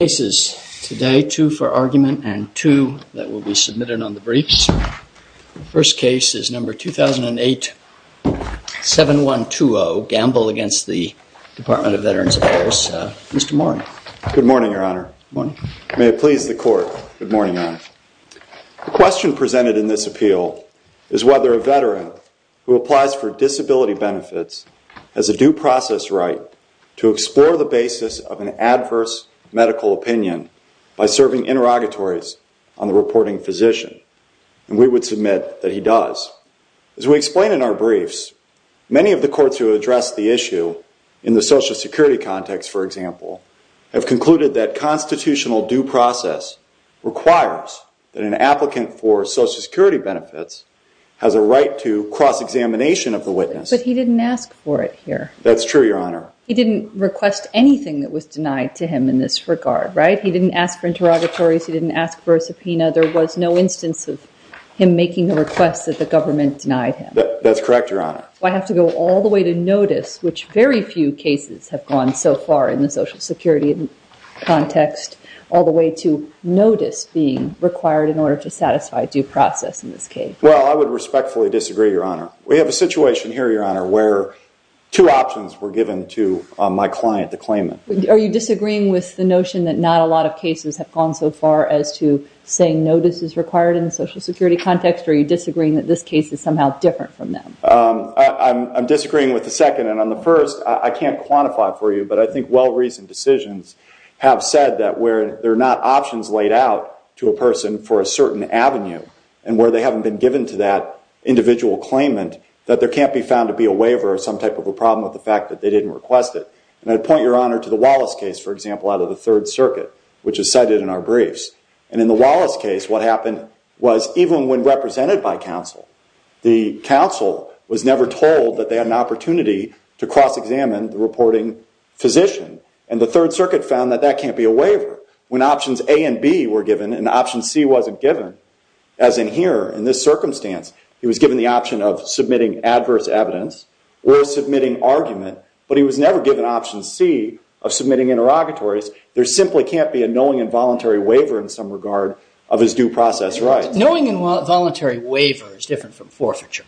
Two cases today, two for argument and two that will be submitted on the briefs. The first case is number 2008-7120, Gamble v. Department of Veterans Affairs. Mr. Moran. Good morning, Your Honor. Good morning. May it please the Court. Good morning, Your Honor. The question presented in this appeal is whether a veteran who applies for disability benefits has a due process right to explore the basis of an adverse medical opinion by serving interrogatories on the reporting physician. And we would submit that he does. As we explain in our briefs, many of the courts who address the issue in the Social Security context, for example, have concluded that constitutional due process requires that an applicant for Social Security benefits has a right to cross-examination of the witness. But he didn't ask for it here. That's true, Your Honor. He didn't request anything that was denied to him in this regard, right? He didn't ask for interrogatories. He didn't ask for a subpoena. There was no instance of him making a request that the government denied him. That's correct, Your Honor. Do I have to go all the way to notice, which very few cases have gone so far in the Social Security context, all the way to notice being required in order to satisfy due process in this case? Well, I would respectfully disagree, Your Honor. We have a situation here, Your Honor, where two options were given to my client to claim it. Are you disagreeing with the notion that not a lot of cases have gone so far as to say notice is required in the Social Security context, or are you disagreeing that this case is somehow different from them? I'm disagreeing with the second. And on the first, I can't quantify for you, but I think well-reasoned decisions have said that where there are not options laid out to a person for a certain avenue and where they haven't been given to that individual claimant, that there can't be found to be a waiver or some type of a problem with the fact that they didn't request it. And I'd point, Your Honor, to the Wallace case, for example, out of the Third Circuit, which is cited in our briefs. And in the Wallace case, what happened was even when represented by counsel, the counsel was never told that they had an opportunity to cross-examine the reporting physician. And the Third Circuit found that that can't be a waiver. When options A and B were given and option C wasn't given, as in here, in this circumstance, he was given the option of submitting adverse evidence or submitting argument, but he was never given option C of submitting interrogatories. There simply can't be a knowing and voluntary waiver in some regard of his due process rights. Knowing and voluntary waiver is different from forfeiture.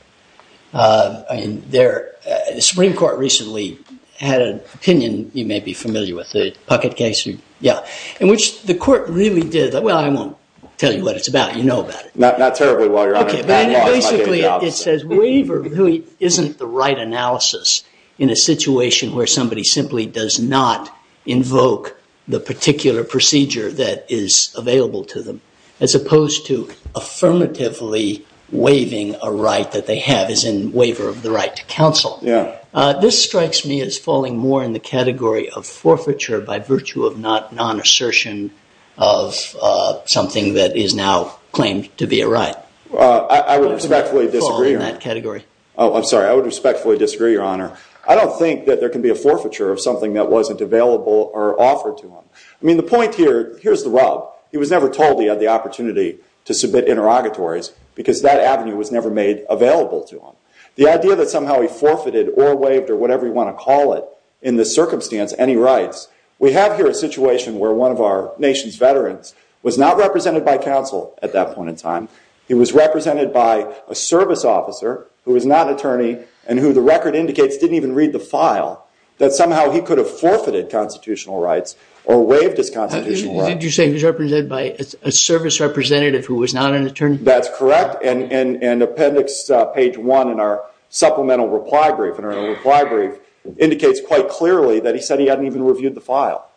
The Supreme Court recently had an opinion you may be familiar with, the Puckett case. Yeah. In which the court really did, well, I won't tell you what it's about. You know about it. Not terribly, Your Honor. Okay. Basically, it says waiver really isn't the right analysis in a situation where somebody simply does not invoke the particular procedure that is available to them, as opposed to affirmatively waiving a right that they have, as in waiver of the right to counsel. Yeah. This strikes me as falling more in the category of forfeiture by virtue of non-assertion of something that is now claimed to be a right. I would respectfully disagree. Fall in that category. Oh, I'm sorry. I would respectfully disagree, Your Honor. I don't think that there can be a forfeiture of something that wasn't available or offered to him. I mean, the point here, here's the rub. He was never told he had the opportunity to submit interrogatories because that avenue was never made available to him. The idea that somehow he forfeited or waived or whatever you want to call it in this circumstance, any rights, we have here a situation where one of our nation's veterans was not represented by counsel at that point in time. He was represented by a service officer who was not an attorney and who the record indicates didn't even read the file, that somehow he could have forfeited constitutional rights or waived his constitutional rights. Did you say he was represented by a service representative who was not an attorney? That's correct. And appendix page one in our supplemental reply brief indicates quite clearly that he said he hadn't even reviewed the file.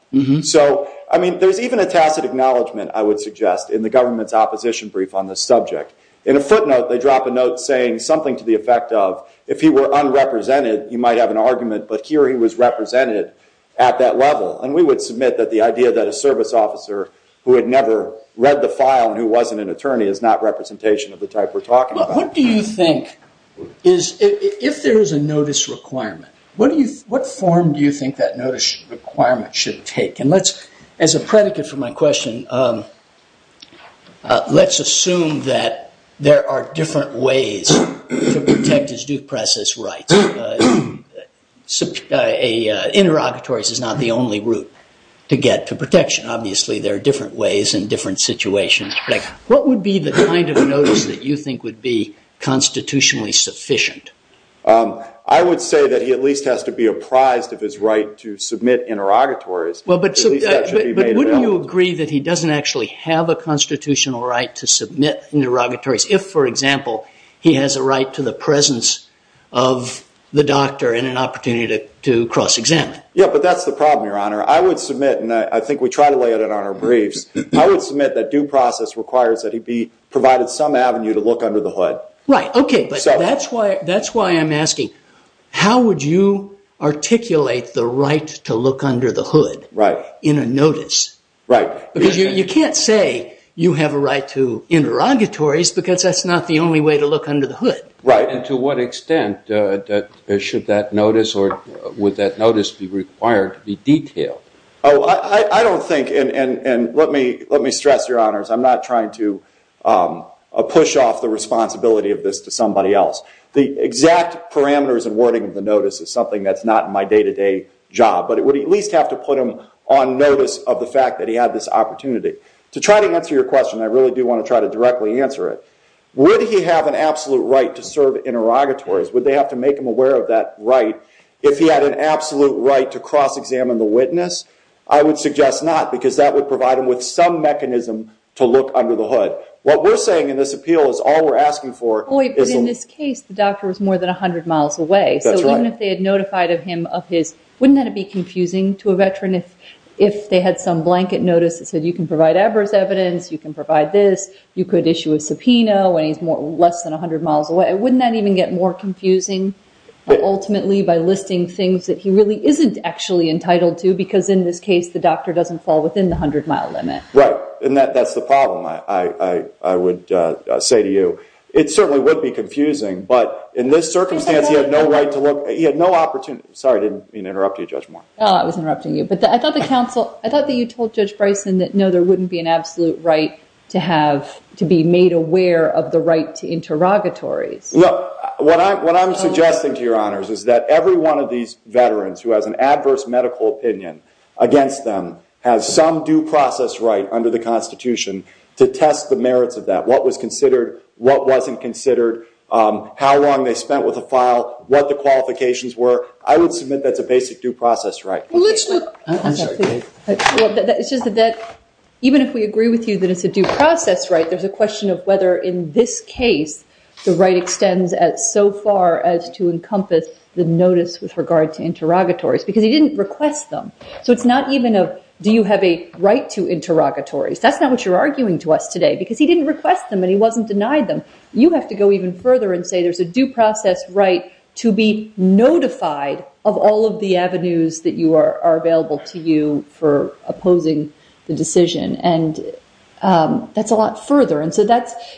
So, I mean, there's even a tacit acknowledgment, I would suggest, in the government's opposition brief on this subject. In a footnote, they drop a note saying something to the effect of, if he were unrepresented, you might have an argument, but here he was represented at that level. And we would submit that the idea that a service officer who had never read the file and who wasn't an attorney is not representation of the type we're talking about. What do you think, if there is a notice requirement, what form do you think that notice requirement should take? And as a predicate for my question, let's assume that there are different ways to protect his due process rights. Interrogatories is not the only route to get to protection. Obviously, there are different ways and different situations. What would be the kind of notice that you think would be constitutionally sufficient? I would say that he at least has to be apprised of his right to submit interrogatories. But wouldn't you agree that he doesn't actually have a constitutional right to submit interrogatories if, for example, he has a right to the presence of the doctor and an opportunity to cross-examine? Yeah, but that's the problem, Your Honor. I would submit, and I think we try to lay it on our briefs, I would submit that due process requires that he be provided some avenue to look under the hood. Right, OK, but that's why I'm asking, how would you articulate the right to look under the hood in a notice? Because you can't say you have a right to interrogatories because that's not the only way to look under the hood. Right, and to what extent should that notice or would that notice be required to be detailed? Oh, I don't think, and let me stress, Your Honors, I'm not trying to push off the responsibility of this to somebody else. The exact parameters and wording of the notice is something that's not in my day-to-day job. But it would at least have to put him on notice of the fact that he had this opportunity. To try to answer your question, I really do want to try to directly answer it. Would he have an absolute right to serve in interrogatories? Would they have to make him aware of that right if he had an absolute right to cross-examine the witness? I would suggest not because that would provide him with some mechanism to look under the hood. What we're saying in this appeal is all we're asking for is… If they had some blanket notice that said you can provide adverse evidence, you can provide this, you could issue a subpoena when he's less than 100 miles away. Wouldn't that even get more confusing ultimately by listing things that he really isn't actually entitled to because in this case the doctor doesn't fall within the 100-mile limit? Right, and that's the problem, I would say to you. It certainly would be confusing, but in this circumstance he had no right to look. Sorry, I didn't mean to interrupt you, Judge Moore. I was interrupting you, but I thought that you told Judge Bryson that no, there wouldn't be an absolute right to be made aware of the right to interrogatories. What I'm suggesting to your honors is that every one of these veterans who has an adverse medical opinion against them has some due process right under the Constitution to test the merits of that. What was considered, what wasn't considered, how long they spent with a file, what the qualifications were, I would submit that's a basic due process right. Even if we agree with you that it's a due process right, there's a question of whether in this case the right extends so far as to encompass the notice with regard to interrogatories because he didn't request them, so it's not even a do you have a right to interrogatories. That's not what you're arguing to us today because he didn't request them and he wasn't denied them. You have to go even further and say there's a due process right to be notified of all of the avenues that are available to you for opposing the decision and that's a lot further.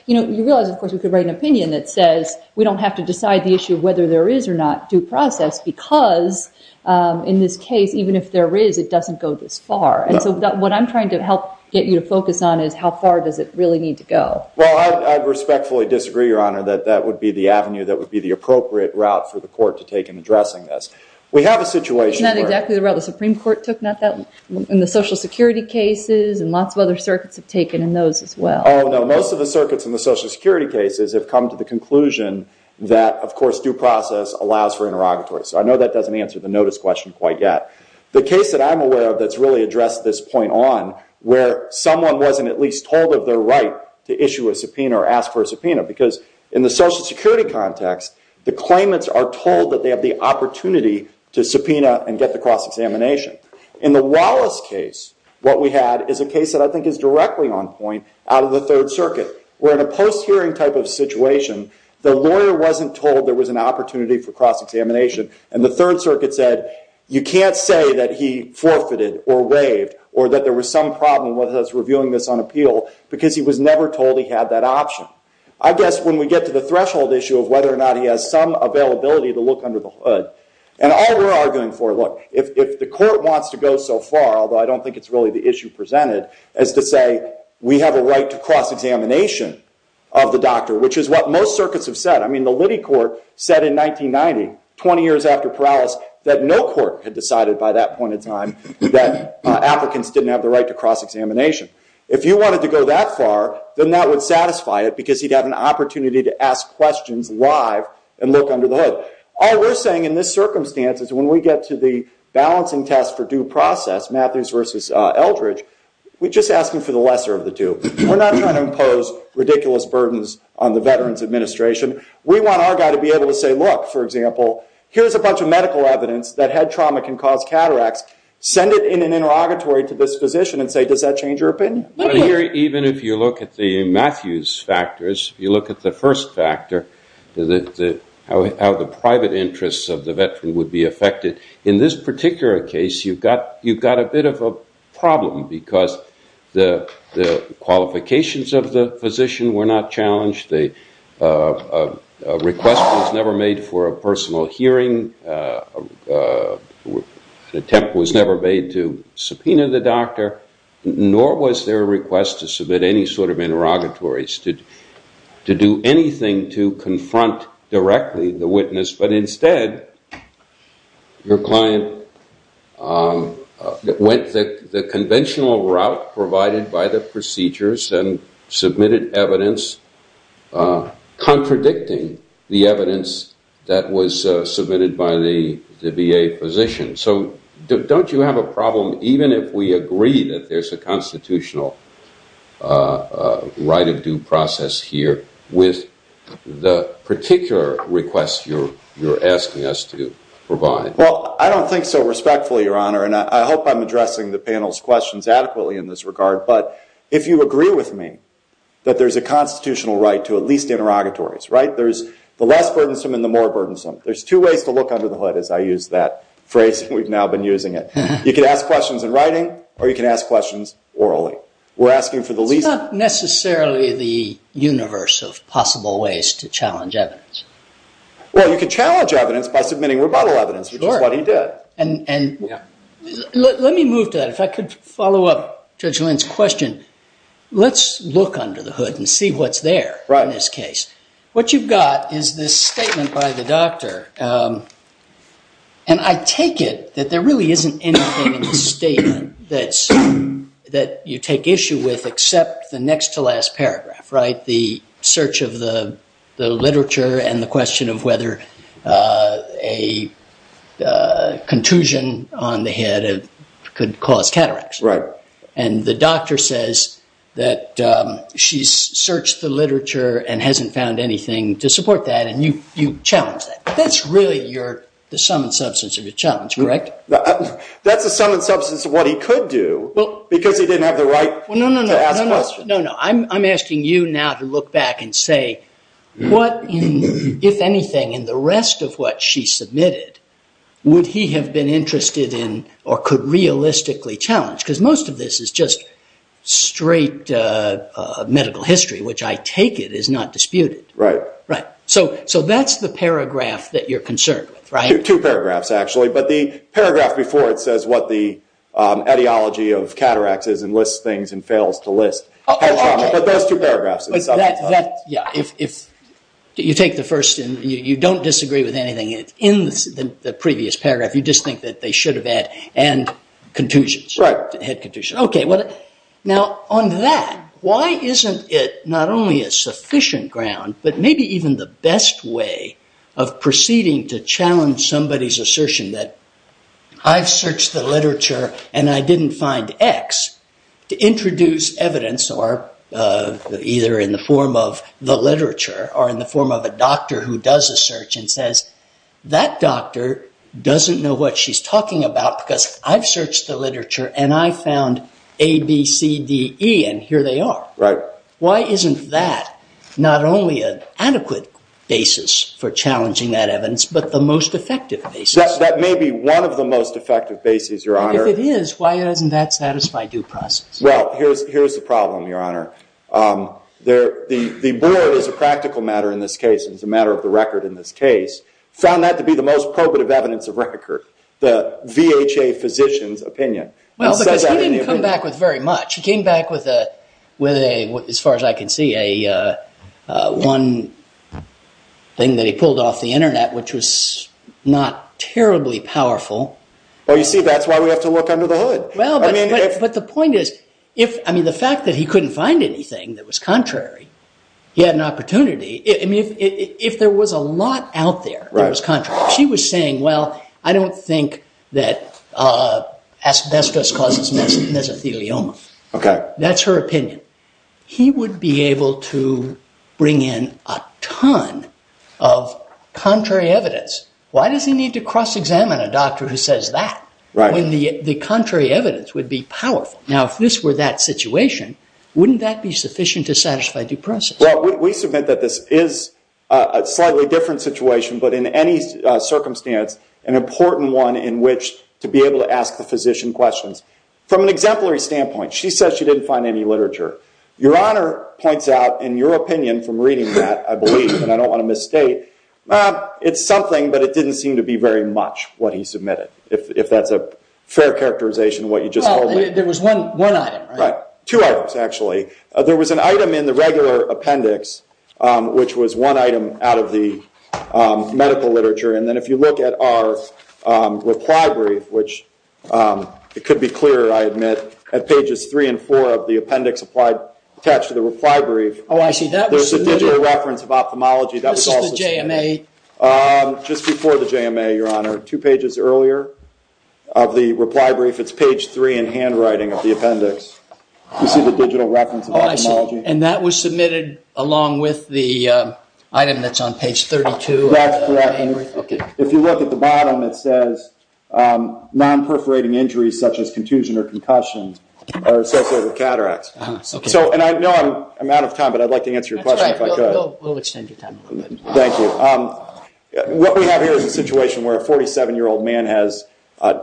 You realize, of course, we could write an opinion that says we don't have to decide the issue whether there is or not due process because in this case, even if there is, it doesn't go this far. What I'm trying to help get you to focus on is how far does it really need to go. I respectfully disagree, Your Honor, that that would be the avenue that would be the appropriate route for the court to take in addressing this. Isn't that exactly the route the Supreme Court took in the Social Security cases and lots of other circuits have taken in those as well? Oh, no. Most of the circuits in the Social Security cases have come to the conclusion that, of course, due process allows for interrogatories. I know that doesn't answer the notice question quite yet. The case that I'm aware of that's really addressed this point on where someone wasn't at least told of their right to issue a subpoena or ask for a subpoena because in the Social Security context, the claimants are told that they have the opportunity to subpoena and get the cross-examination. In the Wallace case, what we had is a case that I think is directly on point out of the Third Circuit where in a post-hearing type of situation, the lawyer wasn't told there was an opportunity for cross-examination and the Third Circuit said you can't say that he forfeited or waived or that there was some problem with us reviewing this on appeal because he was never told he had that option. I guess when we get to the threshold issue of whether or not he has some availability to look under the hood, and all we're arguing for, look, if the court wants to go so far, although I don't think it's really the issue presented, as to say, we have a right to cross-examination of the doctor, which is what most circuits have said. I mean, the Liddy Court said in 1990, 20 years after Perales, that no court had decided by that point in time that applicants didn't have the right to cross-examination. If you wanted to go that far, then that would satisfy it because he'd have an opportunity to ask questions live and look under the hood. All we're saying in this circumstance is when we get to the balancing test for due process, Matthews versus Eldridge, we're just asking for the lesser of the two. We're not trying to impose ridiculous burdens on the Veterans Administration. We want our guy to be able to say, look, for example, here's a bunch of medical evidence that head trauma can cause cataracts. Send it in an interrogatory to this physician and say, does that change your opinion? Even if you look at the Matthews factors, you look at the first factor, how the private interests of the Veteran would be affected. In this particular case, you've got a bit of a problem because the qualifications of the physician were not challenged. The request was never made for a personal hearing. An attempt was never made to subpoena the doctor, nor was there a request to submit any sort of interrogatories, to do anything to confront directly the witness. But instead, your client went the conventional route provided by the procedures and submitted evidence contradicting the evidence that was submitted by the VA physician. So don't you have a problem, even if we agree that there's a constitutional right of due process here, with the particular request you're asking us to provide? Well, I don't think so respectfully, Your Honor, and I hope I'm addressing the panel's questions adequately in this regard. But if you agree with me that there's a constitutional right to at least interrogatories, right? There's the less burdensome and the more burdensome. There's two ways to look under the hood, as I use that phrase we've now been using it. You can ask questions in writing, or you can ask questions orally. It's not necessarily the universe of possible ways to challenge evidence. Well, you can challenge evidence by submitting rebuttal evidence, which is what he did. Let me move to that. If I could follow up Judge Lynn's question. Let's look under the hood and see what's there in this case. What you've got is this statement by the doctor, and I take it that there really isn't anything in the statement that you take issue with except the next to last paragraph, right? The search of the literature and the question of whether a contusion on the head could cause cataracts. Right. And the doctor says that she's searched the literature and hasn't found anything to support that, and you challenge that. That's really the sum and substance of your challenge, correct? That's the sum and substance of what he could do because he didn't have the right to ask questions. No, no. I'm asking you now to look back and say what, if anything, in the rest of what she submitted, would he have been interested in or could realistically challenge? Because most of this is just straight medical history, which I take it is not disputed. Right. Right. So that's the paragraph that you're concerned with, right? Two paragraphs, actually. But the paragraph before it says what the ideology of cataracts is and lists things and fails to list. But those two paragraphs are the sum and substance. Yeah. If you take the first and you don't disagree with anything in the previous paragraph, you just think that they should have had contusions. Right. Had contusions. Now, on that, why isn't it not only a sufficient ground but maybe even the best way of proceeding to challenge somebody's assertion that I've searched the literature and I didn't find X to introduce evidence or either in the form of the literature or in the form of a doctor who does a search and says that doctor doesn't know what she's talking about because I've searched the literature and I found A, B, C, D, E, and here they are. Right. Why isn't that not only an adequate basis for challenging that evidence but the most effective basis? Yes, that may be one of the most effective bases, Your Honor. If it is, why doesn't that satisfy due process? Well, here's the problem, Your Honor. The board is a practical matter in this case and is a matter of the record in this case. Found that to be the most probative evidence of record, the VHA physician's opinion. Well, because he didn't come back with very much. He came back with, as far as I can see, one thing that he pulled off the Internet, which was not terribly powerful. Well, you see, that's why we have to look under the hood. Well, but the point is, I mean, the fact that he couldn't find anything that was contrary, he had an opportunity. I mean, if there was a lot out there that was contrary. She was saying, well, I don't think that asbestos causes mesothelioma. Okay. That's her opinion. He would be able to bring in a ton of contrary evidence. Why does he need to cross-examine a doctor who says that when the contrary evidence would be powerful? Now, if this were that situation, wouldn't that be sufficient to satisfy due process? Well, we submit that this is a slightly different situation, but in any circumstance, an important one in which to be able to ask the physician questions. From an exemplary standpoint, she says she didn't find any literature. Your Honor points out, in your opinion, from reading that, I believe, and I don't want to misstate, it's something, but it didn't seem to be very much what he submitted, if that's a fair characterization of what you just told me. There was one item, right? Right. Two items, actually. There was an item in the regular appendix, which was one item out of the medical literature, and then if you look at our reply brief, which it could be clearer, I admit, at pages three and four of the appendix attached to the reply brief. Oh, I see. That was submitted. There's a digital reference of ophthalmology. That was also submitted. This is the JMA. Just before the JMA, Your Honor, two pages earlier of the reply brief. It's page three in handwriting of the appendix. You see the digital reference of ophthalmology? Oh, I see. And that was submitted along with the item that's on page 32 of the reply brief? That's correct. If you look at the bottom, it says, non-perforating injuries such as contusion or concussions are associated with cataracts. I know I'm out of time, but I'd like to answer your question if I could. That's all right. We'll extend your time. Thank you. What we have here is a situation where a 47-year-old man has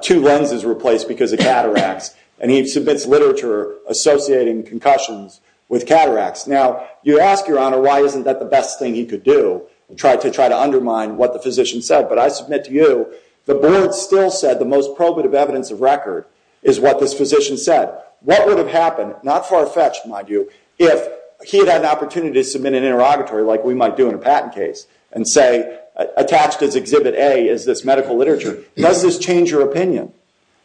two lenses replaced because of cataracts, and he submits literature associating concussions with cataracts. Now, you ask, Your Honor, why isn't that the best thing he could do, to try to undermine what the physician said? But I submit to you the board still said the most probative evidence of record is what this physician said. What would have happened, not far-fetched, mind you, if he had had an opportunity to submit an interrogatory like we might do in a patent case and say attached as Exhibit A is this medical literature? Does this change your opinion?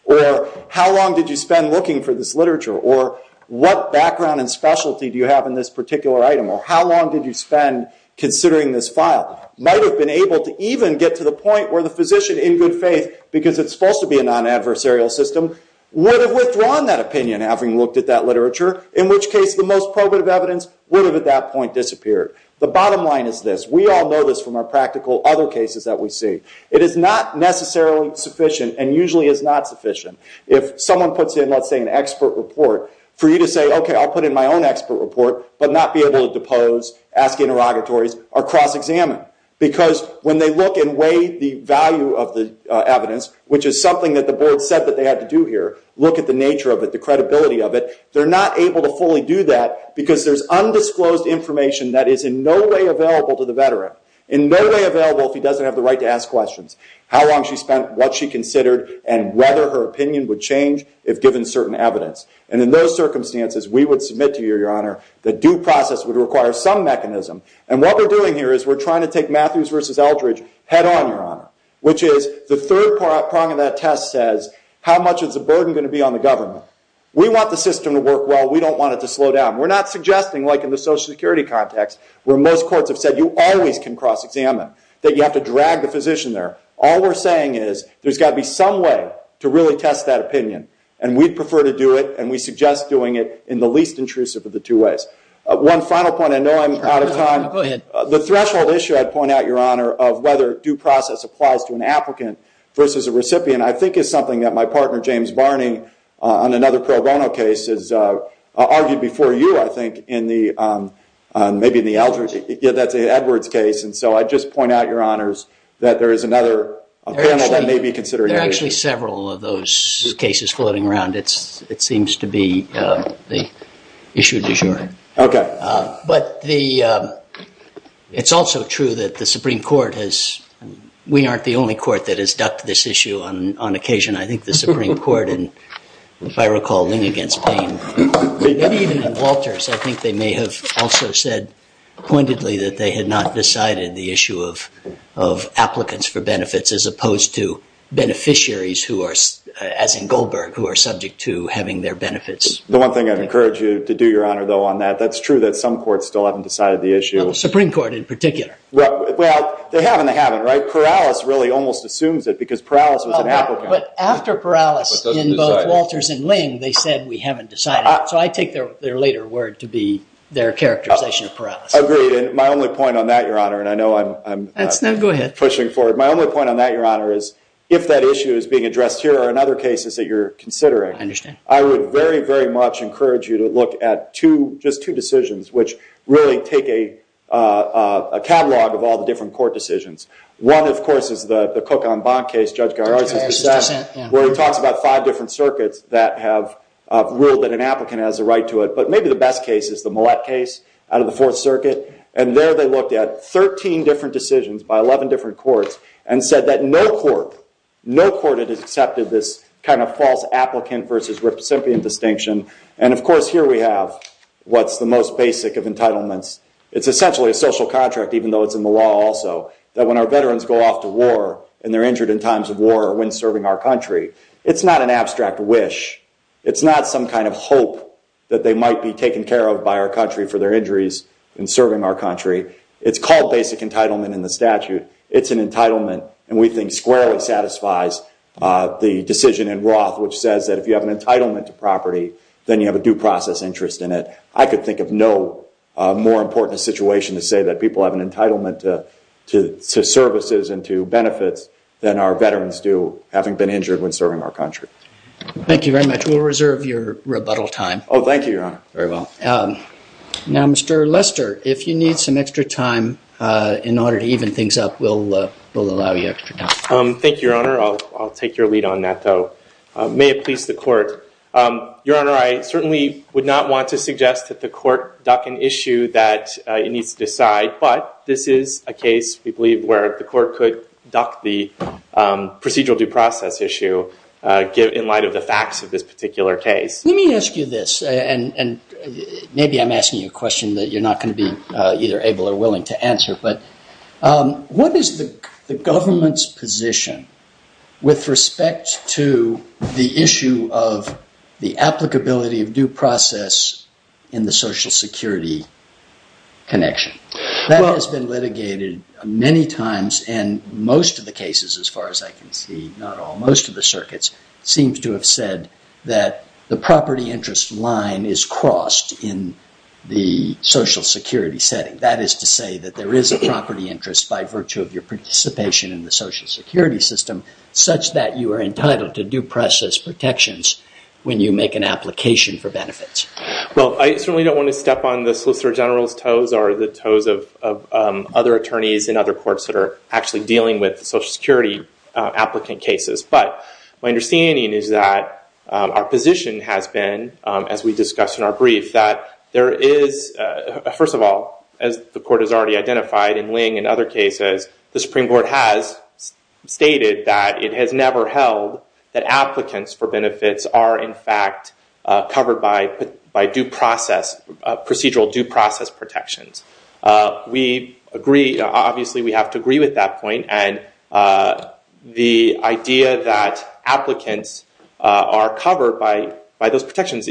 Or how long did you spend looking for this literature? Or what background and specialty do you have in this particular item? Or how long did you spend considering this file? Might have been able to even get to the point where the physician, in good faith, because it's supposed to be a non-adversarial system, would have withdrawn that opinion having looked at that literature, in which case the most probative evidence would have at that point disappeared. The bottom line is this. We all know this from our practical other cases that we see. It is not necessarily sufficient, and usually is not sufficient, if someone puts in, let's say, an expert report, for you to say, OK, I'll put in my own expert report, but not be able to depose, ask interrogatories, or cross-examine. Because when they look and weigh the value of the evidence, which is something that the board said that they had to do here, look at the nature of it, the credibility of it, they're not able to fully do that because there's undisclosed information that is in no way available to the veteran, in no way available if he doesn't have the right to ask questions. How long she spent, what she considered, and whether her opinion would change if given certain evidence. And in those circumstances, we would submit to you, Your Honor, that due process would require some mechanism. And what we're doing here is we're trying to take Matthews v. Eldridge head-on, Your Honor, which is the third prong of that test says, how much is the burden going to be on the government? We want the system to work well. We don't want it to slow down. We're not suggesting, like in the Social Security context, where most courts have said you always can cross-examine, that you have to drag the physician there. All we're saying is there's got to be some way to really test that opinion. And we'd prefer to do it, and we suggest doing it in the least intrusive of the two ways. One final point, I know I'm out of time. The threshold issue, I'd point out, Your Honor, of whether due process applies to an applicant versus a recipient, I think is something that my partner, James Barney, on another pro bono case, has argued before you, I think, maybe in the Eldridge case. Yeah, that's the Edwards case. And so I'd just point out, Your Honors, that there is another panel that may be considering it. There are actually several of those cases floating around. It seems to be the issue du jour. Okay. But it's also true that the Supreme Court has – and on occasion, I think the Supreme Court in, if I recall, Ling v. Payne, maybe even in Walters, I think they may have also said pointedly that they had not decided the issue of applicants for benefits as opposed to beneficiaries, as in Goldberg, who are subject to having their benefits. The one thing I'd encourage you to do, Your Honor, though, on that, that's true that some courts still haven't decided the issue. The Supreme Court in particular. Well, they have and they haven't, right? Because Perales was an applicant. But after Perales in both Walters and Ling, they said, we haven't decided. So I take their later word to be their characterization of Perales. Agreed. And my only point on that, Your Honor, and I know I'm pushing forward. My only point on that, Your Honor, is if that issue is being addressed here or in other cases that you're considering, I would very, very much encourage you to look at just two decisions which really take a catalog of all the different court decisions. One, of course, is the Cook-On-Bond case Judge Garris has discussed, where he talks about five different circuits that have ruled that an applicant has a right to it. But maybe the best case is the Millett case out of the Fourth Circuit. And there they looked at 13 different decisions by 11 different courts and said that no court, no court had accepted this kind of false applicant versus recipient distinction. It's essentially a social contract, even though it's in the law also, that when our veterans go off to war and they're injured in times of war or when serving our country, it's not an abstract wish. It's not some kind of hope that they might be taken care of by our country for their injuries in serving our country. It's called basic entitlement in the statute. It's an entitlement, and we think squarely satisfies the decision in Roth, which says that if you have an entitlement to property, then you have a due process interest in it. I could think of no more important situation to say that people have an entitlement to services and to benefits than our veterans do having been injured when serving our country. Thank you very much. We'll reserve your rebuttal time. Oh, thank you, Your Honor. Very well. Now, Mr. Lester, if you need some extra time in order to even things up, we'll allow you extra time. Thank you, Your Honor. I'll take your lead on that, though. May it please the Court. Your Honor, I certainly would not want to suggest that the Court duck an issue that it needs to decide, but this is a case, we believe, where the Court could duck the procedural due process issue in light of the facts of this particular case. Let me ask you this, and maybe I'm asking you a question What is the government's position with respect to the issue of the applicability of due process in the Social Security connection? That has been litigated many times, and most of the cases, as far as I can see, not all, most of the circuits, seems to have said that the property interest line is crossed in the Social Security setting. That is to say that there is a property interest by virtue of your participation in the Social Security system, such that you are entitled to due process protections when you make an application for benefits. Well, I certainly don't want to step on the Solicitor General's toes or the toes of other attorneys in other courts that are actually dealing with Social Security applicant cases, but my understanding is that our position has been, as we discussed in our brief, that there is, first of all, as the Court has already identified, in Ling and other cases, the Supreme Court has stated that it has never held that applicants for benefits are in fact covered by procedural due process protections. We agree, obviously we have to agree with that point, and the idea that applicants are covered by those protections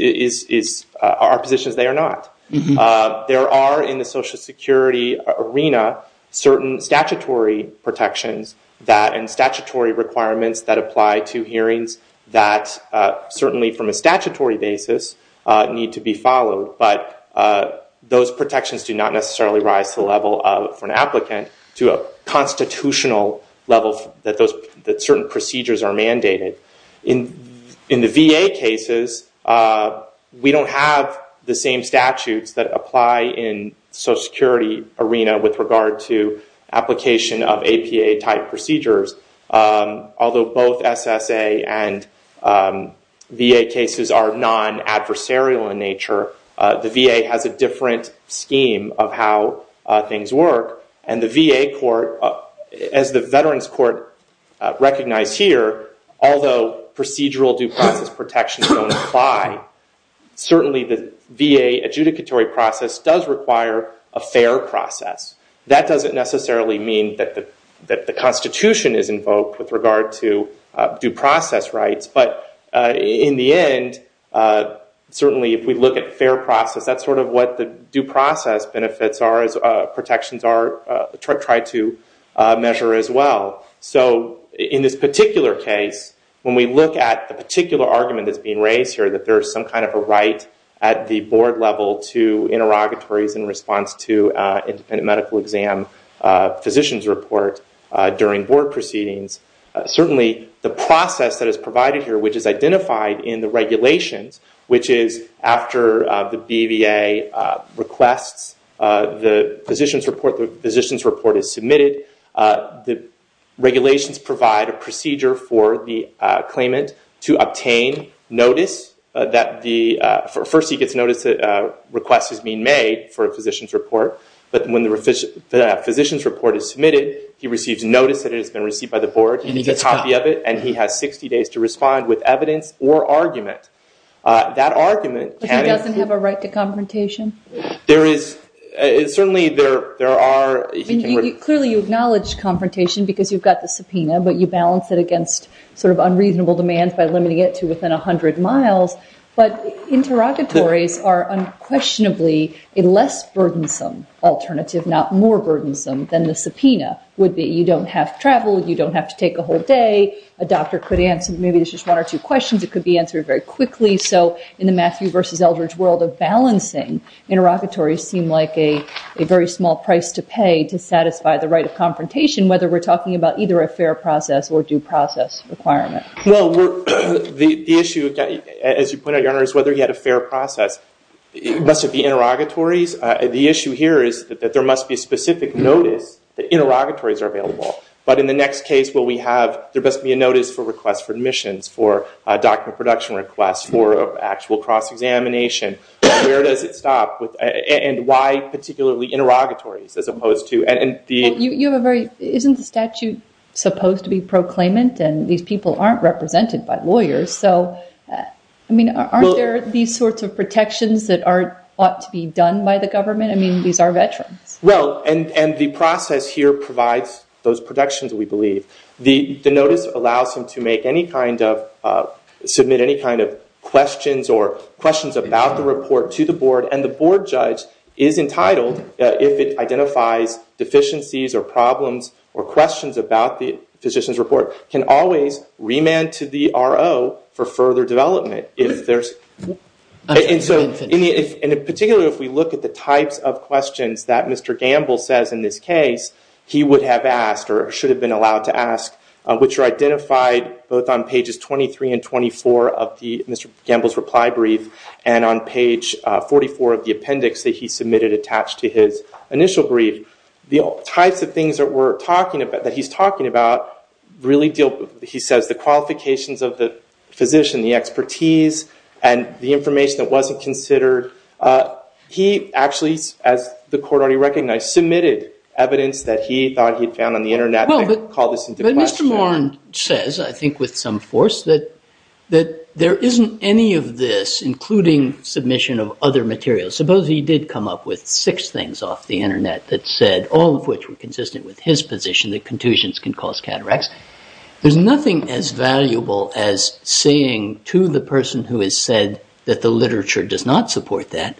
are positions they are not. There are, in the Social Security arena, certain statutory protections and statutory requirements that apply to hearings that, certainly from a statutory basis, need to be followed, but those protections do not necessarily rise to the level for an applicant to a constitutional level that certain procedures are mandated. In the VA cases, we don't have the same statutes that apply in the Social Security arena with regard to application of APA-type procedures. Although both SSA and VA cases are non-adversarial in nature, the VA has a different scheme of how things work, and the VA court, as the Veterans Court recognized here, although procedural due process protections don't apply, certainly the VA adjudicatory process does require a fair process. That doesn't necessarily mean that the Constitution is invoked with regard to due process rights, but in the end, certainly if we look at fair process, that's sort of what the due process benefits are, as protections are tried to measure as well. In this particular case, when we look at the particular argument that's being raised here, that there's some kind of a right at the board level to interrogatories in response to independent medical exam physician's report during board proceedings, certainly the process that is provided here, which is identified in the regulations, which is after the BVA requests the physician's report, the physician's report is submitted, the regulations provide a procedure for the claimant to obtain notice. First he gets notice that a request is being made for a physician's report, but when the physician's report is submitted, he receives notice that it has been received by the board, and he gets a copy of it, and he has 60 days to respond with evidence or argument. That argument... But he doesn't have a right to confrontation? Certainly there are... Clearly you acknowledge confrontation because you've got the subpoena, but you balance it against sort of unreasonable demands by limiting it to within 100 miles, but interrogatories are unquestionably a less burdensome alternative, not more burdensome than the subpoena would be. You don't have travel, you don't have to take a whole day, a doctor could answer maybe just one or two questions, it could be answered very quickly, so in the Matthew versus Eldridge world of balancing, interrogatories seem like a very small price to pay to satisfy the right of confrontation, whether we're talking about either a fair process or due process requirement. Well, the issue, as you pointed out, Your Honor, is whether he had a fair process. It must have been interrogatories. The issue here is that there must be a specific notice that interrogatories are available, but in the next case will we have... There must be a notice for requests for admissions, for document production requests, for actual cross-examination. Where does it stop? And why particularly interrogatories as opposed to... Well, you have a very... Isn't the statute supposed to be proclaimant and these people aren't represented by lawyers? So, I mean, aren't there these sorts of protections that ought to be done by the government? I mean, these are veterans. Well, and the process here provides those protections, we believe. The notice allows him to make any kind of... submit any kind of questions or questions about the report to the board, and the board judge is entitled, if it identifies deficiencies or problems or questions about the physician's report, can always remand to the RO for further development. If there's... And particularly if we look at the types of questions that Mr. Gamble says in this case, he would have asked or should have been allowed to ask, which are identified both on pages 23 and 24 of Mr. Gamble's reply brief, and on page 44 of the appendix that he submitted attached to his initial brief. The types of things that he's talking about really deal... He says the qualifications of the physician, the expertise and the information that wasn't considered. He actually, as the court already recognized, submitted evidence that he thought he'd found on the Internet and called this into question. But Mr. Morin says, I think with some force, that there isn't any of this, including submission of other materials. Suppose he did come up with six things off the Internet that said, all of which were consistent with his position, that contusions can cause cataracts. There's nothing as valuable as saying to the person who has said that the literature does not support that,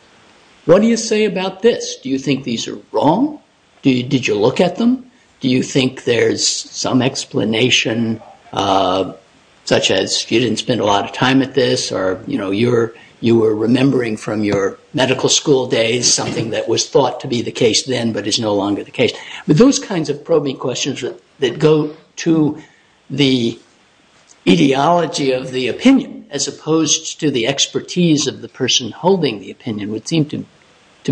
what do you say about this? Do you think these are wrong? Did you look at them? Do you think there's some explanation, such as you didn't spend a lot of time at this or you were remembering from your medical school days something that was thought to be the case then but is no longer the case? Those kinds of probing questions that go to the ideology of the opinion as opposed to the expertise of the person holding the opinion would seem to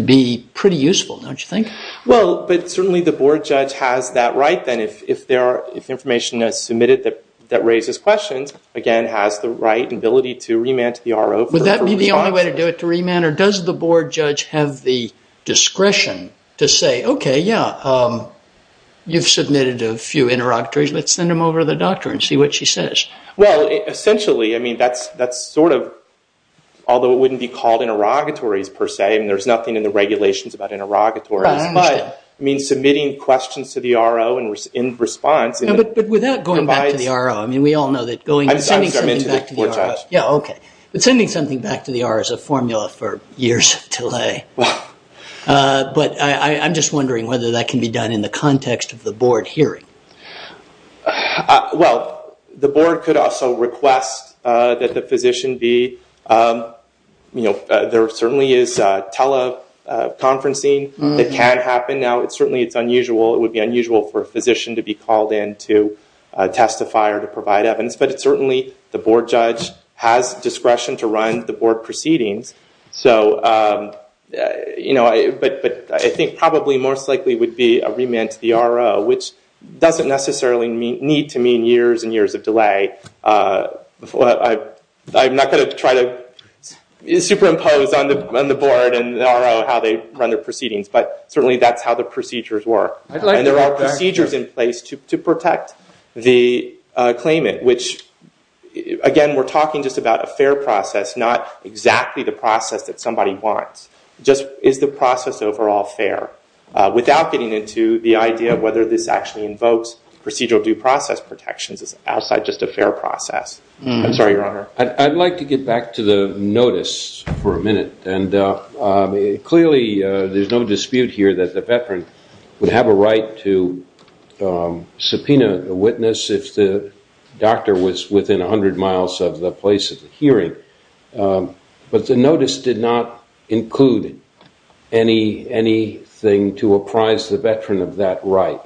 be pretty useful, don't you think? Well, but certainly the board judge has that right then. If information is submitted that raises questions, again, has the right and ability to remand to the RO. Would that be the only way to do it, to remand? Or does the board judge have the discretion to say, okay, yeah, you've submitted a few interlocutories, let's send them over to the doctor and see what she says? Well, essentially, I mean, that's sort of, although it wouldn't be called interlocutories per se, and there's nothing in the regulations about interlocutories, but submitting questions to the RO in response... But without going back to the RO, I mean, we all know that sending something back to the RO... Yeah, okay, but sending something back to the RO is a formula for years of delay. But I'm just wondering whether that can be done in the context of the board hearing. Well, the board could also request that the physician be... You know, there certainly is teleconferencing that can happen. Now, certainly, it's unusual. It would be unusual for a physician to be called in to testify or to provide evidence. But certainly, the board judge has discretion to run the board proceedings. So, you know, but I think probably most likely would be a remand to the RO, which doesn't necessarily need to mean years and years of delay. I'm not going to try to superimpose on the board and the RO how they run their proceedings, but certainly that's how the procedures work. And there are procedures in place to protect the claimant, which, again, we're talking just about a fair process, not exactly the process that somebody wants. Just is the process overall fair? Without getting into the idea of whether this actually invokes procedural due process protections as outside just a fair process. I'm sorry, Your Honor. I'd like to get back to the notice for a minute. And clearly, there's no dispute here that the veteran would have a right to subpoena a witness if the doctor was within 100 miles of the place of the hearing. But the notice did not include anything to apprise the veteran of that right.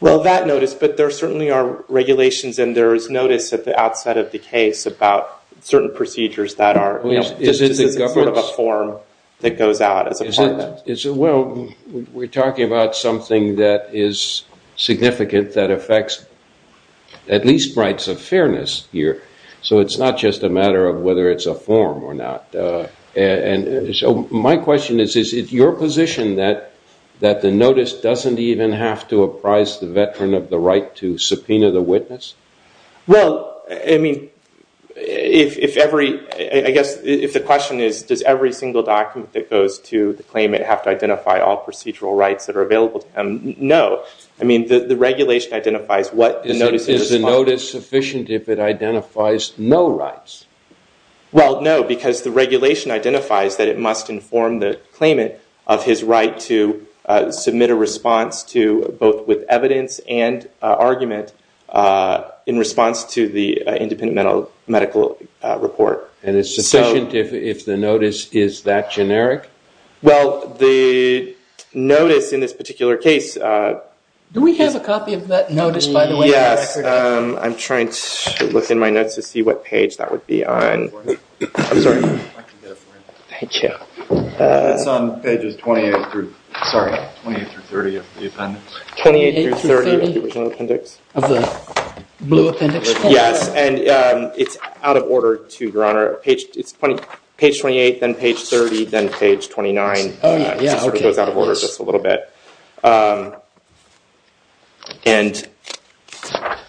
Well, that notice, but there certainly are regulations and there is notice at the outset of the case about certain procedures that are, you know, just as a sort of a form that goes out as a part of that. Well, we're talking about something that is significant that affects at least rights of fairness here. So it's not just a matter of whether it's a form or not. And so my question is, is it your position that the notice doesn't even have to apprise the veteran of the right to subpoena the witness? Well, I mean, if every... I guess if the question is, does every single document that goes to the claimant have to identify all procedural rights that are available to him? No. I mean, the regulation identifies what the notice is. Is the notice sufficient if it identifies no rights? Well, no, because the regulation identifies that it must inform the claimant of his right to submit a response to both with evidence and argument in response to the independent medical report. And it's sufficient if the notice is that generic? Well, the notice in this particular case... Do we have a copy of that notice, by the way? Yes. I'm trying to look in my notes to see what page that would be on. I'm sorry. I can get it for you. Thank you. It's on pages 28 through... Sorry, 28 through 30 of the appendix. 28 through 30 of the original appendix? Of the blue appendix. Yes, and it's out of order to, Your Honor. It's page 28, then page 30, then page 29. Oh, yeah. It sort of goes out of order just a little bit. And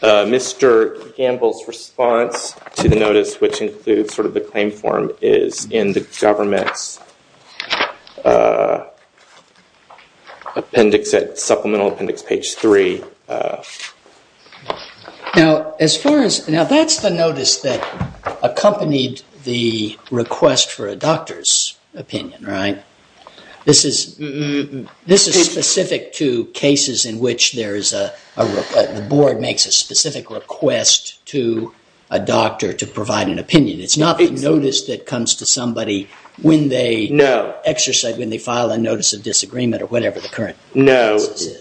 Mr. Gamble's response to the notice, which includes sort of the claim form, is in the government's appendix, supplemental appendix, page 3. Now, as far as... Now, that's the notice that accompanied the request for a doctor's opinion, right? This is specific to cases in which there is a... The board makes a specific request to a doctor to provide an opinion. It's not the notice that comes to somebody when they... No. ...exercise, when they file a notice of disagreement or whatever the current... No.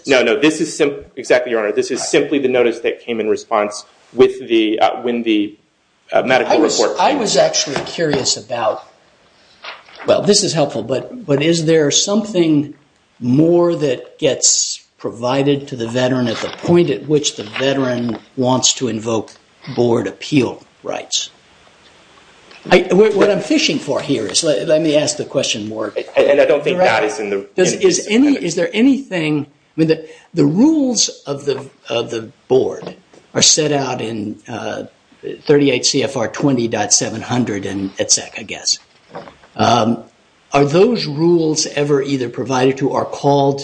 No, no. This is simply... Exactly, Your Honor. This is simply the notice that came in response when the medical report came in. I was actually curious about... Well, this is helpful, but is there something more that gets provided to the veteran at the point at which the veteran wants to invoke board appeal rights? What I'm fishing for here is... Let me ask the question more directly. And I don't think that is in the... Is there anything... I mean, the rules of the board are set out in 38 CFR 20.700 and etc., I guess. Are those rules ever either provided to or called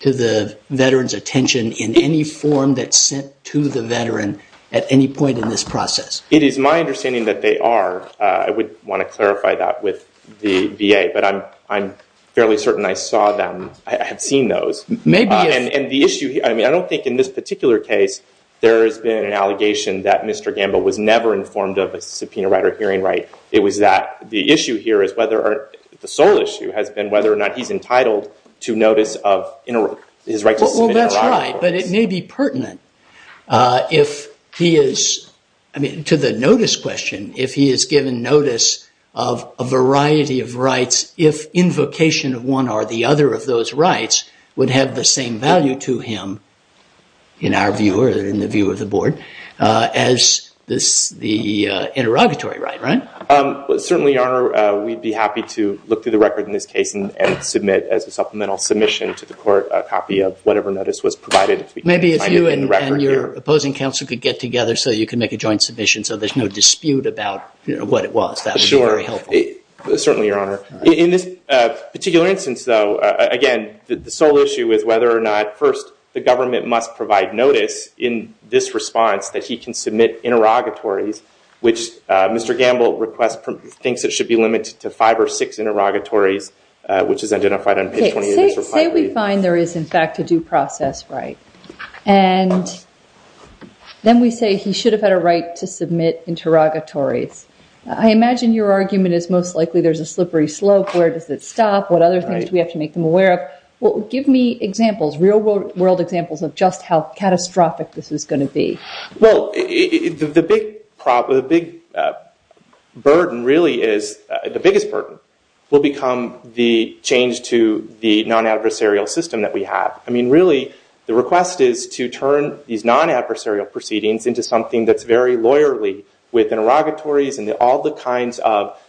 to the veteran's attention in any form that's sent to the veteran at any point in this process? It is my understanding that they are. I would want to clarify that with the VA, but I'm fairly certain I saw them, I have seen those. Maybe if... And the issue... I mean, I don't think in this particular case there has been an allegation that Mr. Gamble was never informed of a subpoena right or hearing right. It was that... The issue here is whether... The sole issue has been whether or not he's entitled to notice of his right to submit... Well, that's right, but it may be pertinent if he is... I mean, to the notice question, if he is given notice of a variety of rights, if invocation of one or the other of those rights would have the same value to him, in our view or in the view of the board, as the interrogatory right, right? Certainly, Your Honor. We'd be happy to look through the record in this case and submit as a supplemental submission to the court a copy of whatever notice was provided. Maybe if you and your opposing counsel could get together so you can make a joint submission so there's no dispute about what it was, that would be very helpful. Certainly, Your Honor. In this particular instance, though, again, the sole issue is whether or not, first, the government must provide notice in this response that he can submit interrogatories, which Mr. Gamble thinks it should be limited to five or six interrogatories, which is identified on page 28 of his reply. Say we find there is, in fact, a due process right, and then we say he should have had a right to submit interrogatories. I imagine your argument is most likely there's a slippery slope. Where does it stop? What other things do we have to make them aware of? Well, give me examples. Real-world examples of just how catastrophic this is going to be. Well, the big burden, really, is the biggest burden will become the change to the non-adversarial system that we have. I mean, really, the request is to turn these non-adversarial proceedings into something that's very lawyerly with interrogatories and all the kinds of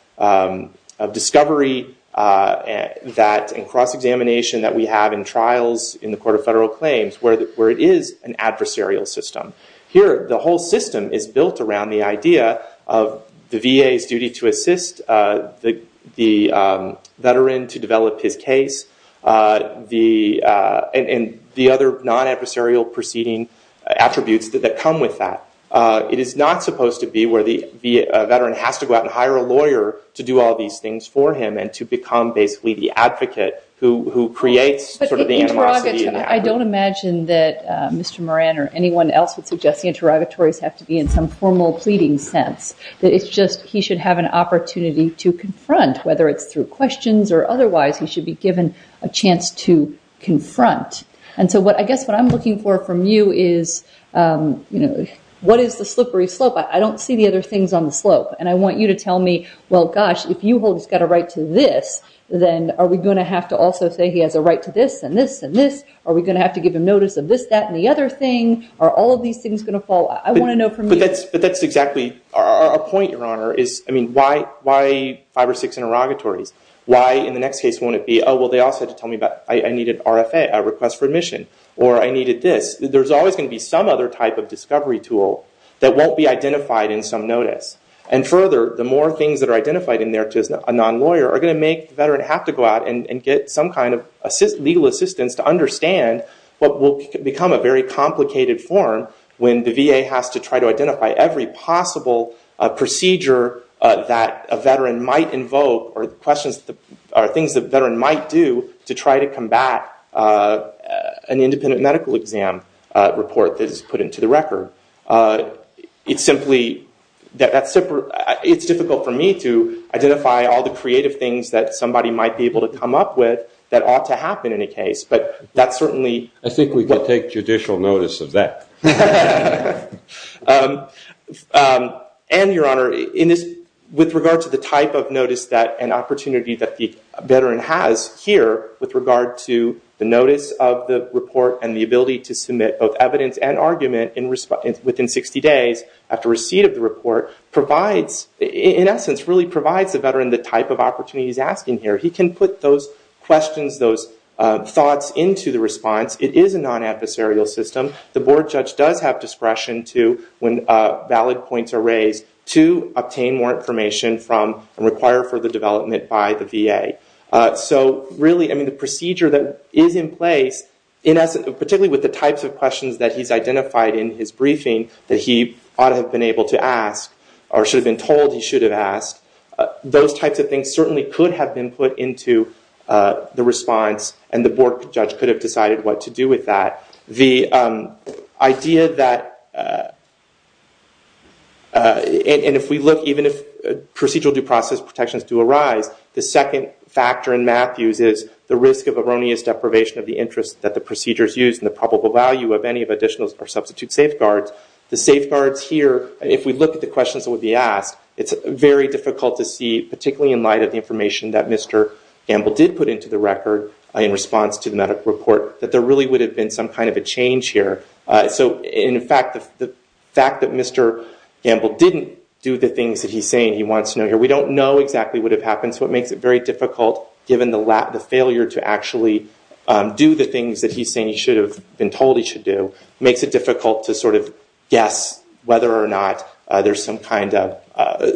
discovery and cross-examination that we have in trials in the Court of Federal Claims, where it is an adversarial system. Here, the whole system is built around the idea of the VA's duty to assist the veteran to develop his case and the other non-adversarial proceeding attributes that come with that. It is not supposed to be where the veteran has to go out and hire a lawyer to do all these things for him and to become basically the advocate who creates sort of the animosity and the anger. I don't imagine that Mr. Moran or anyone else would suggest the interrogatories have to be in some formal pleading sense, that it's just he should have an opportunity to confront, whether it's through questions or otherwise, he should be given a chance to confront. And so I guess what I'm looking for from you is, what is the slippery slope? I don't see the other things on the slope. And I want you to tell me, well, gosh, if you hold he's got a right to this, then are we going to have to also say he has a right to this and this and this? Are we going to have to give him notice of this, that, and the other thing? Are all of these things going to fall? I want to know from you. But that's exactly our point, Your Honor, is, I mean, why five or six interrogatories? Why in the next case won't it be, oh, well, they all said to tell me I needed RFA, a request for admission, or I needed this? There's always going to be some other type of discovery tool that won't be identified in some notice. And further, the more things that are identified in there to a non-lawyer are going to make the veteran have to go out and get some kind of legal assistance to understand what will become a very complicated form when the VA has to try to identify every possible procedure that a veteran might invoke or questions or things the veteran might do to try to combat an independent medical exam report that is put into the record. It's simply that it's difficult for me to identify all the creative things that somebody might be able to come up with that ought to happen in a case. But that's certainly... I think we could take judicial notice of that. And, Your Honor, with regard to the type of notice and opportunity that the veteran has here with regard to the notice of the report and the ability to submit both evidence and argument within 60 days after receipt of the report provides, in essence, really provides the veteran the type of opportunity he's asking here. He can put those questions, those thoughts, into the response. It is a non-adversarial system. The board judge does have discretion to, when valid points are raised, to obtain more information from and require further development by the VA. So, really, I mean, the procedure that is in place, particularly with the types of questions that he's identified in his briefing that he ought to have been able to ask or should have been told he should have asked, those types of things certainly could have been put into the response, and the board judge could have decided what to do with that. The idea that... And if we look, even if procedural due process protections do arise, the second factor in Matthews is the risk of erroneous deprivation of the interest that the procedures use and the probable value of any of additional or substitute safeguards. The safeguards here, if we look at the questions that would be asked, it's very difficult to see, particularly in light of the information that Mr. Gamble did put into the record in response to the medical report, that there really would have been some kind of a change here. So, in fact, the fact that Mr. Gamble didn't do the things that he's saying he wants to know here, we don't know exactly what would have happened, so it makes it very difficult, given the failure to actually do the things that he's saying he should have been told he should do, makes it difficult to sort of guess whether or not there's some kind of...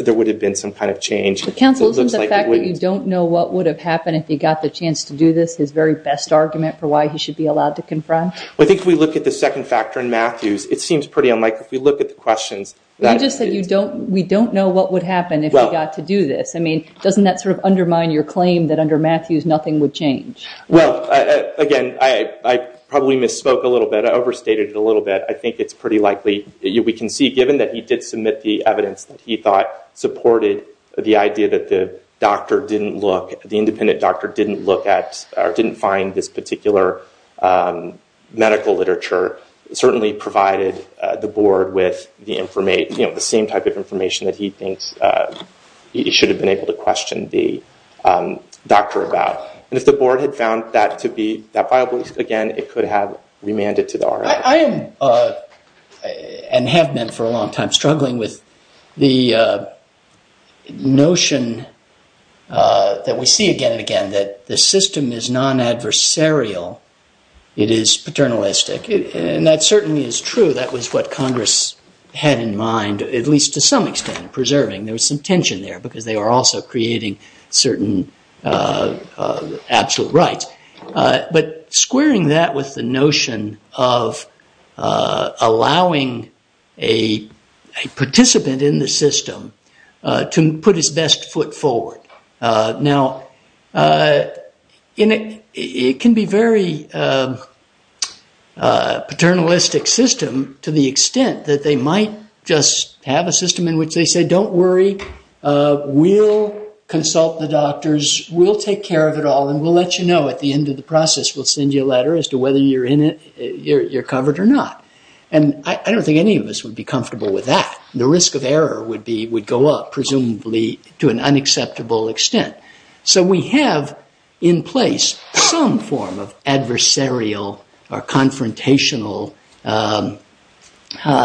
there would have been some kind of change. But, counsel, isn't the fact that you don't know what would have happened if he got the chance to do this his very best argument for why he should be allowed to confront? Well, I think if we look at the second factor in Matthews, it seems pretty unlike... If we look at the questions... You just said we don't know what would happen if he got to do this. I mean, doesn't that sort of undermine your claim that under Matthews nothing would change? Well, again, I probably misspoke a little bit. I overstated it a little bit. I think it's pretty likely... We can see, given that he did submit the evidence that he thought supported the idea that the doctor didn't look, the independent doctor didn't look at or didn't find this particular medical literature, certainly provided the board with the same type of information that he thinks he should have been able to question the doctor about. And if the board had found that to be that viable, again, it could have remanded to the RIO. I am and have been for a long time struggling with the notion that we see again and again that the system is non-adversarial. It is paternalistic. And that certainly is true. That was what Congress had in mind, at least to some extent, preserving. There was some tension there because they were also creating certain absolute rights. But squaring that with the notion of allowing a participant in the system to put his best foot forward. Now, it can be a very paternalistic system to the extent that they might just have a system in which they say, don't worry. We'll consult the doctors. We'll take care of it all. And we'll let you know at the end of the process. We'll send you a letter as to whether you're covered or not. And I don't think any of us would be comfortable with that. The risk of error would go up, presumably, to an unacceptable extent. So we have in place some form of adversarial or confrontational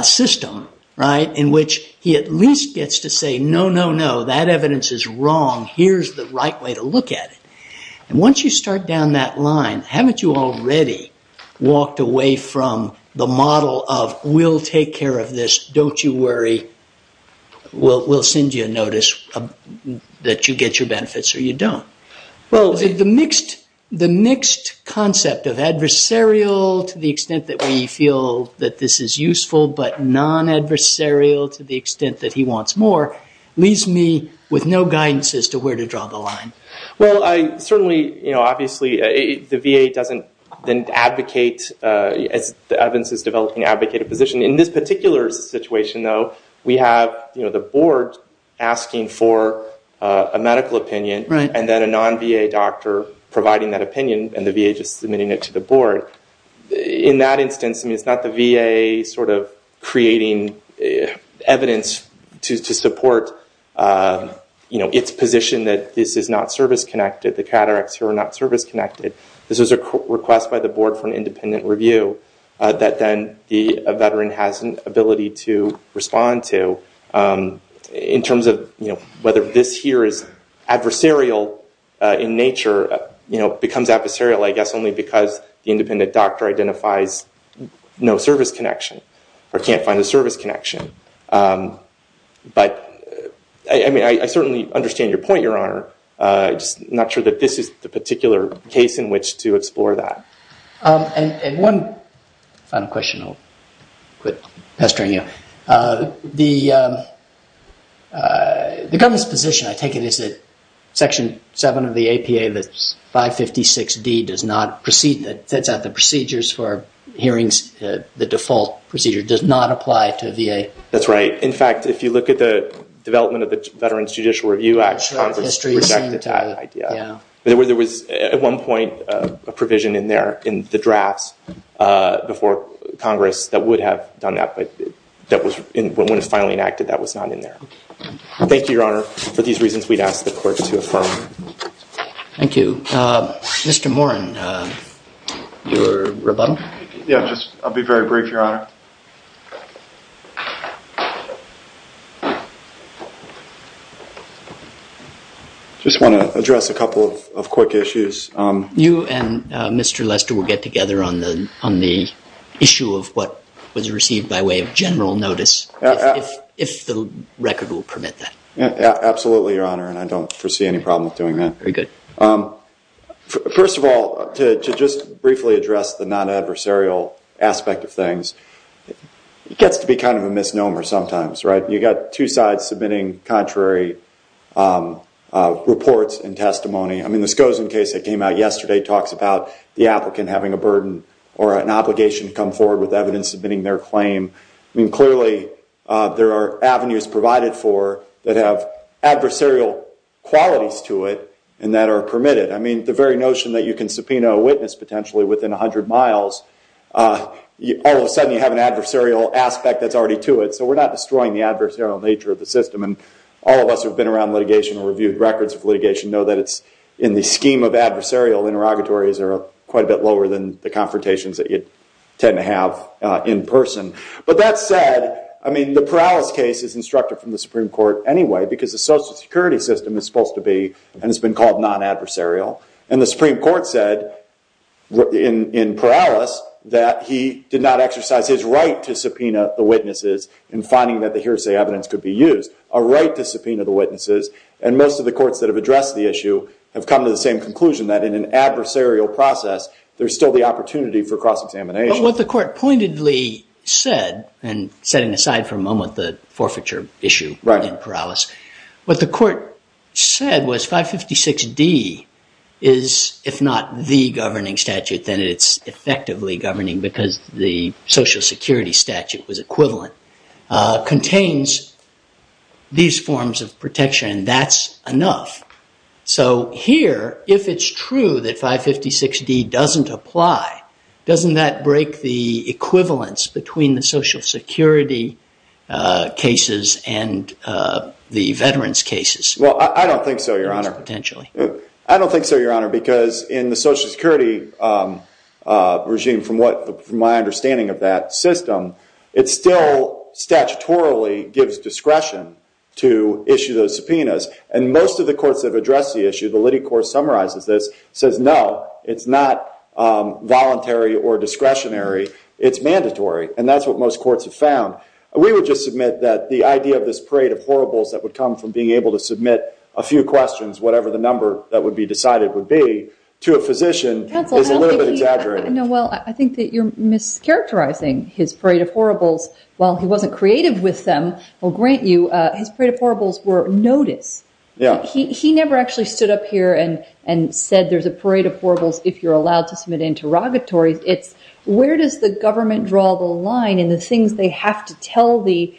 system in which he at least gets to say, no, no, no. That evidence is wrong. Here's the right way to look at it. And once you start down that line, haven't you already walked away from the model of, we'll take care of this. Don't you worry. We'll send you a notice that you get your benefits or you don't. Well, the mixed concept of adversarial to the extent that we feel that this is useful but non-adversarial to the extent that he wants more leaves me with no guidance as to where to draw the line. Well, certainly, obviously, the VA doesn't then advocate, as the evidence is developing, advocate a position. In this particular situation, though, we have the board asking for a medical opinion and then a non-VA doctor providing that opinion and the VA just submitting it to the board. In that instance, it's not the VA creating evidence to support its position that this is not service-connected, the cataracts here are not service-connected. This is a request by the board for an independent review that then a veteran has an ability to respond to. In terms of whether this here is adversarial in nature, becomes adversarial, I guess, only because the independent doctor identifies no service connection or can't find a service connection. But, I mean, I certainly understand your point, Your Honor. I'm just not sure that this is the particular case in which to explore that. And one final question, I'll quit pestering you. The government's position, I take it, is that Section 7 of the APA, that's 556D, that sets out the procedures for hearings, the default procedure, does not apply to VA? That's right. In fact, if you look at the development of the Veterans Judicial Review Act, Congress rejected that idea. There was, at one point, a provision in there in the drafts before Congress that would have done that, but when it was finally enacted, that was not in there. Thank you, Your Honor, for these reasons we'd ask the court to affirm. Thank you. Mr. Morin, your rebuttal? Yeah, I'll be very brief, Your Honor. I just want to address a couple of quick issues. You and Mr. Lester will get together on the issue of what was received by way of general notice, if the record will permit that. Absolutely, Your Honor, and I don't foresee any problem with doing that. Very good. First of all, to just briefly address the non-adversarial aspect of things, it gets to be kind of a misnomer sometimes, right? You've got two sides submitting contrary reports and testimony. I mean, the Skosen case that came out yesterday talks about the applicant having a burden or an obligation to come forward with evidence submitting their claim. I mean, clearly, there are avenues provided for that have adversarial qualities to it and that are permitted. I mean, the very notion that you can subpoena a witness potentially within 100 miles, all of a sudden you have an adversarial aspect that's already to it, so we're not destroying the adversarial nature of the system. And all of us who have been around litigation or reviewed records of litigation know that it's in the scheme of adversarial interrogatories that are quite a bit lower than the confrontations that you'd tend to have in person. But that said, I mean, the Perales case is instructed from the Supreme Court anyway because the Social Security system is supposed to be, and it's been called non-adversarial, and the Supreme Court said in Perales that he did not exercise his right to subpoena the witnesses in finding that the hearsay evidence could be used. A right to subpoena the witnesses, and most of the courts that have addressed the issue have come to the same conclusion that in an adversarial process there's still the opportunity for cross-examination. But what the court pointedly said, and setting aside for a moment the forfeiture issue in Perales, what the court said was 556D is, if not the governing statute, then it's effectively governing because the Social Security statute was equivalent, contains these forms of protection, and that's enough. So here, if it's true that 556D doesn't apply, doesn't that break the equivalence between the Social Security cases and the veterans' cases? Well, I don't think so, Your Honor. I don't think so, Your Honor, because in the Social Security regime, from my understanding of that system, it still statutorily gives discretion to issue those subpoenas, and most of the courts that have addressed the issue, the Liddy Court summarizes this, says no, it's not voluntary or discretionary, it's mandatory, and that's what most courts have found. We would just submit that the idea of this parade of horribles that would come from being able to submit a few questions, whatever the number that would be decided would be, to a physician is a little bit exaggerated. No, well, I think that you're mischaracterizing his parade of horribles. While he wasn't creative with them, I'll grant you, his parade of horribles were noticed. He never actually stood up here and said there's a parade of horribles if you're allowed to submit interrogatories. Where does the government draw the line in the things they have to tell the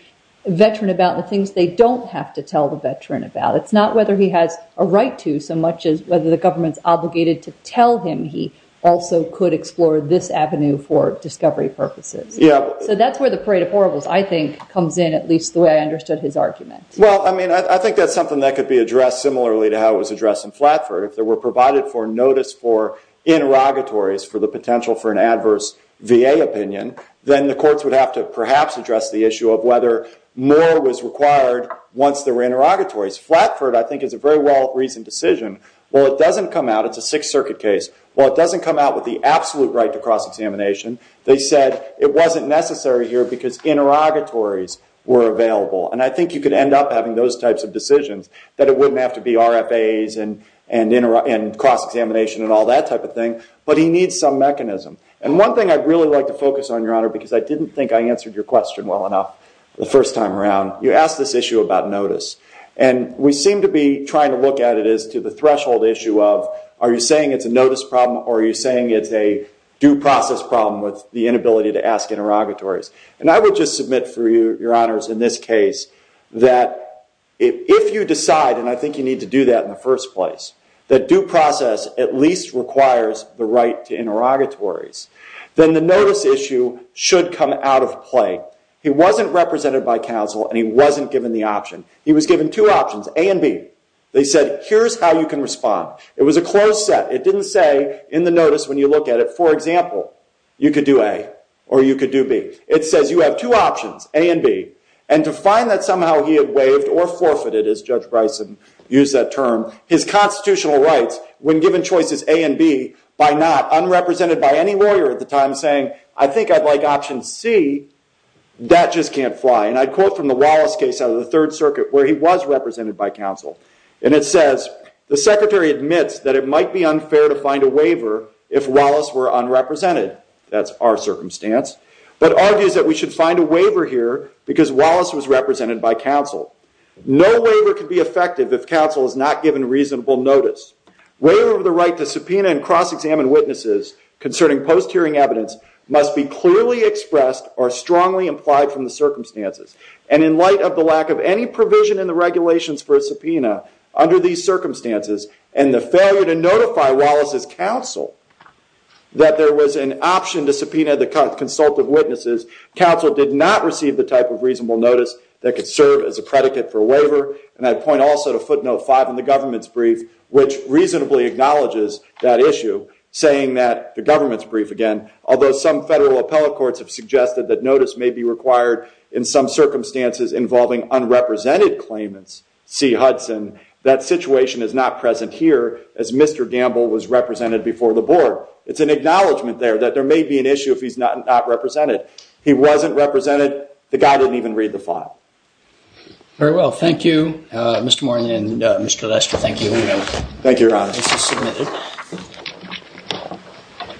veteran about and the things they don't have to tell the veteran about? It's not whether he has a right to, so much as whether the government's obligated to tell him he also could explore this avenue for discovery purposes. So that's where the parade of horribles, I think, comes in, at least the way I understood his argument. Well, I mean, I think that's something that could be addressed similarly to how it was addressed in Flatford. If there were provided for notice for interrogatories for the potential for an adverse VA opinion, then the courts would have to perhaps address the issue of whether more was required once there were interrogatories. Flatford, I think, is a very well-reasoned decision. While it doesn't come out, it's a Sixth Circuit case, while it doesn't come out with the absolute right to cross-examination, they said it wasn't necessary here because interrogatories were available. And I think you could end up having those types of decisions that it wouldn't have to be RFAs and cross-examination and all that type of thing, but he needs some mechanism. And one thing I'd really like to focus on, Your Honor, because I didn't think I answered your question well enough the first time around, you asked this issue about notice. And we seem to be trying to look at it as to the threshold issue of, are you saying it's a notice problem or are you saying it's a due process problem with the inability to ask interrogatories? And I would just submit for you, Your Honors, in this case that if you decide, and I think you need to do that in the first place, that due process at least requires the right to interrogatories, then the notice issue should come out of play. He wasn't represented by counsel and he wasn't given the option. He was given two options, A and B. They said, here's how you can respond. It was a closed set. It didn't say in the notice when you look at it, for example, you could do A or you could do B. It says you have two options, A and B. And to find that somehow he had waived or forfeited, as Judge Bryson used that term, his constitutional rights when given choices A and B by not unrepresented by any lawyer at the time saying, I think I'd like option C. That just can't fly. And I'd quote from the Wallace case out of the Third Circuit where he was represented by counsel. And it says, the secretary admits that it might be unfair to find a waiver if Wallace were unrepresented. That's our circumstance. But argues that we should find a waiver here because Wallace was represented by counsel. No waiver could be effective if counsel is not given reasonable notice. Waiver of the right to subpoena and cross-examine witnesses concerning post-hearing evidence must be clearly expressed or strongly implied from the circumstances. And in light of the lack of any provision in the regulations for a subpoena under these circumstances and the failure to notify Wallace's counsel that there was an option to subpoena the consult of witnesses, counsel did not receive the type of reasonable notice that could serve as a predicate for a waiver. And I'd point also to footnote 5 in the government's brief, which reasonably acknowledges that issue, saying that, the government's brief again, although some federal appellate courts have suggested that notice may be required in some circumstances involving unrepresented claimants, see Hudson, that situation is not present here as Mr. Gamble was represented before the board. It's an acknowledgment there that there may be an issue if he's not represented. He wasn't represented. The guy didn't even read the file. Very well. Thank you, Mr. Moran and Mr. Lester. Thank you. Thank you, Your Honor. This is submitted.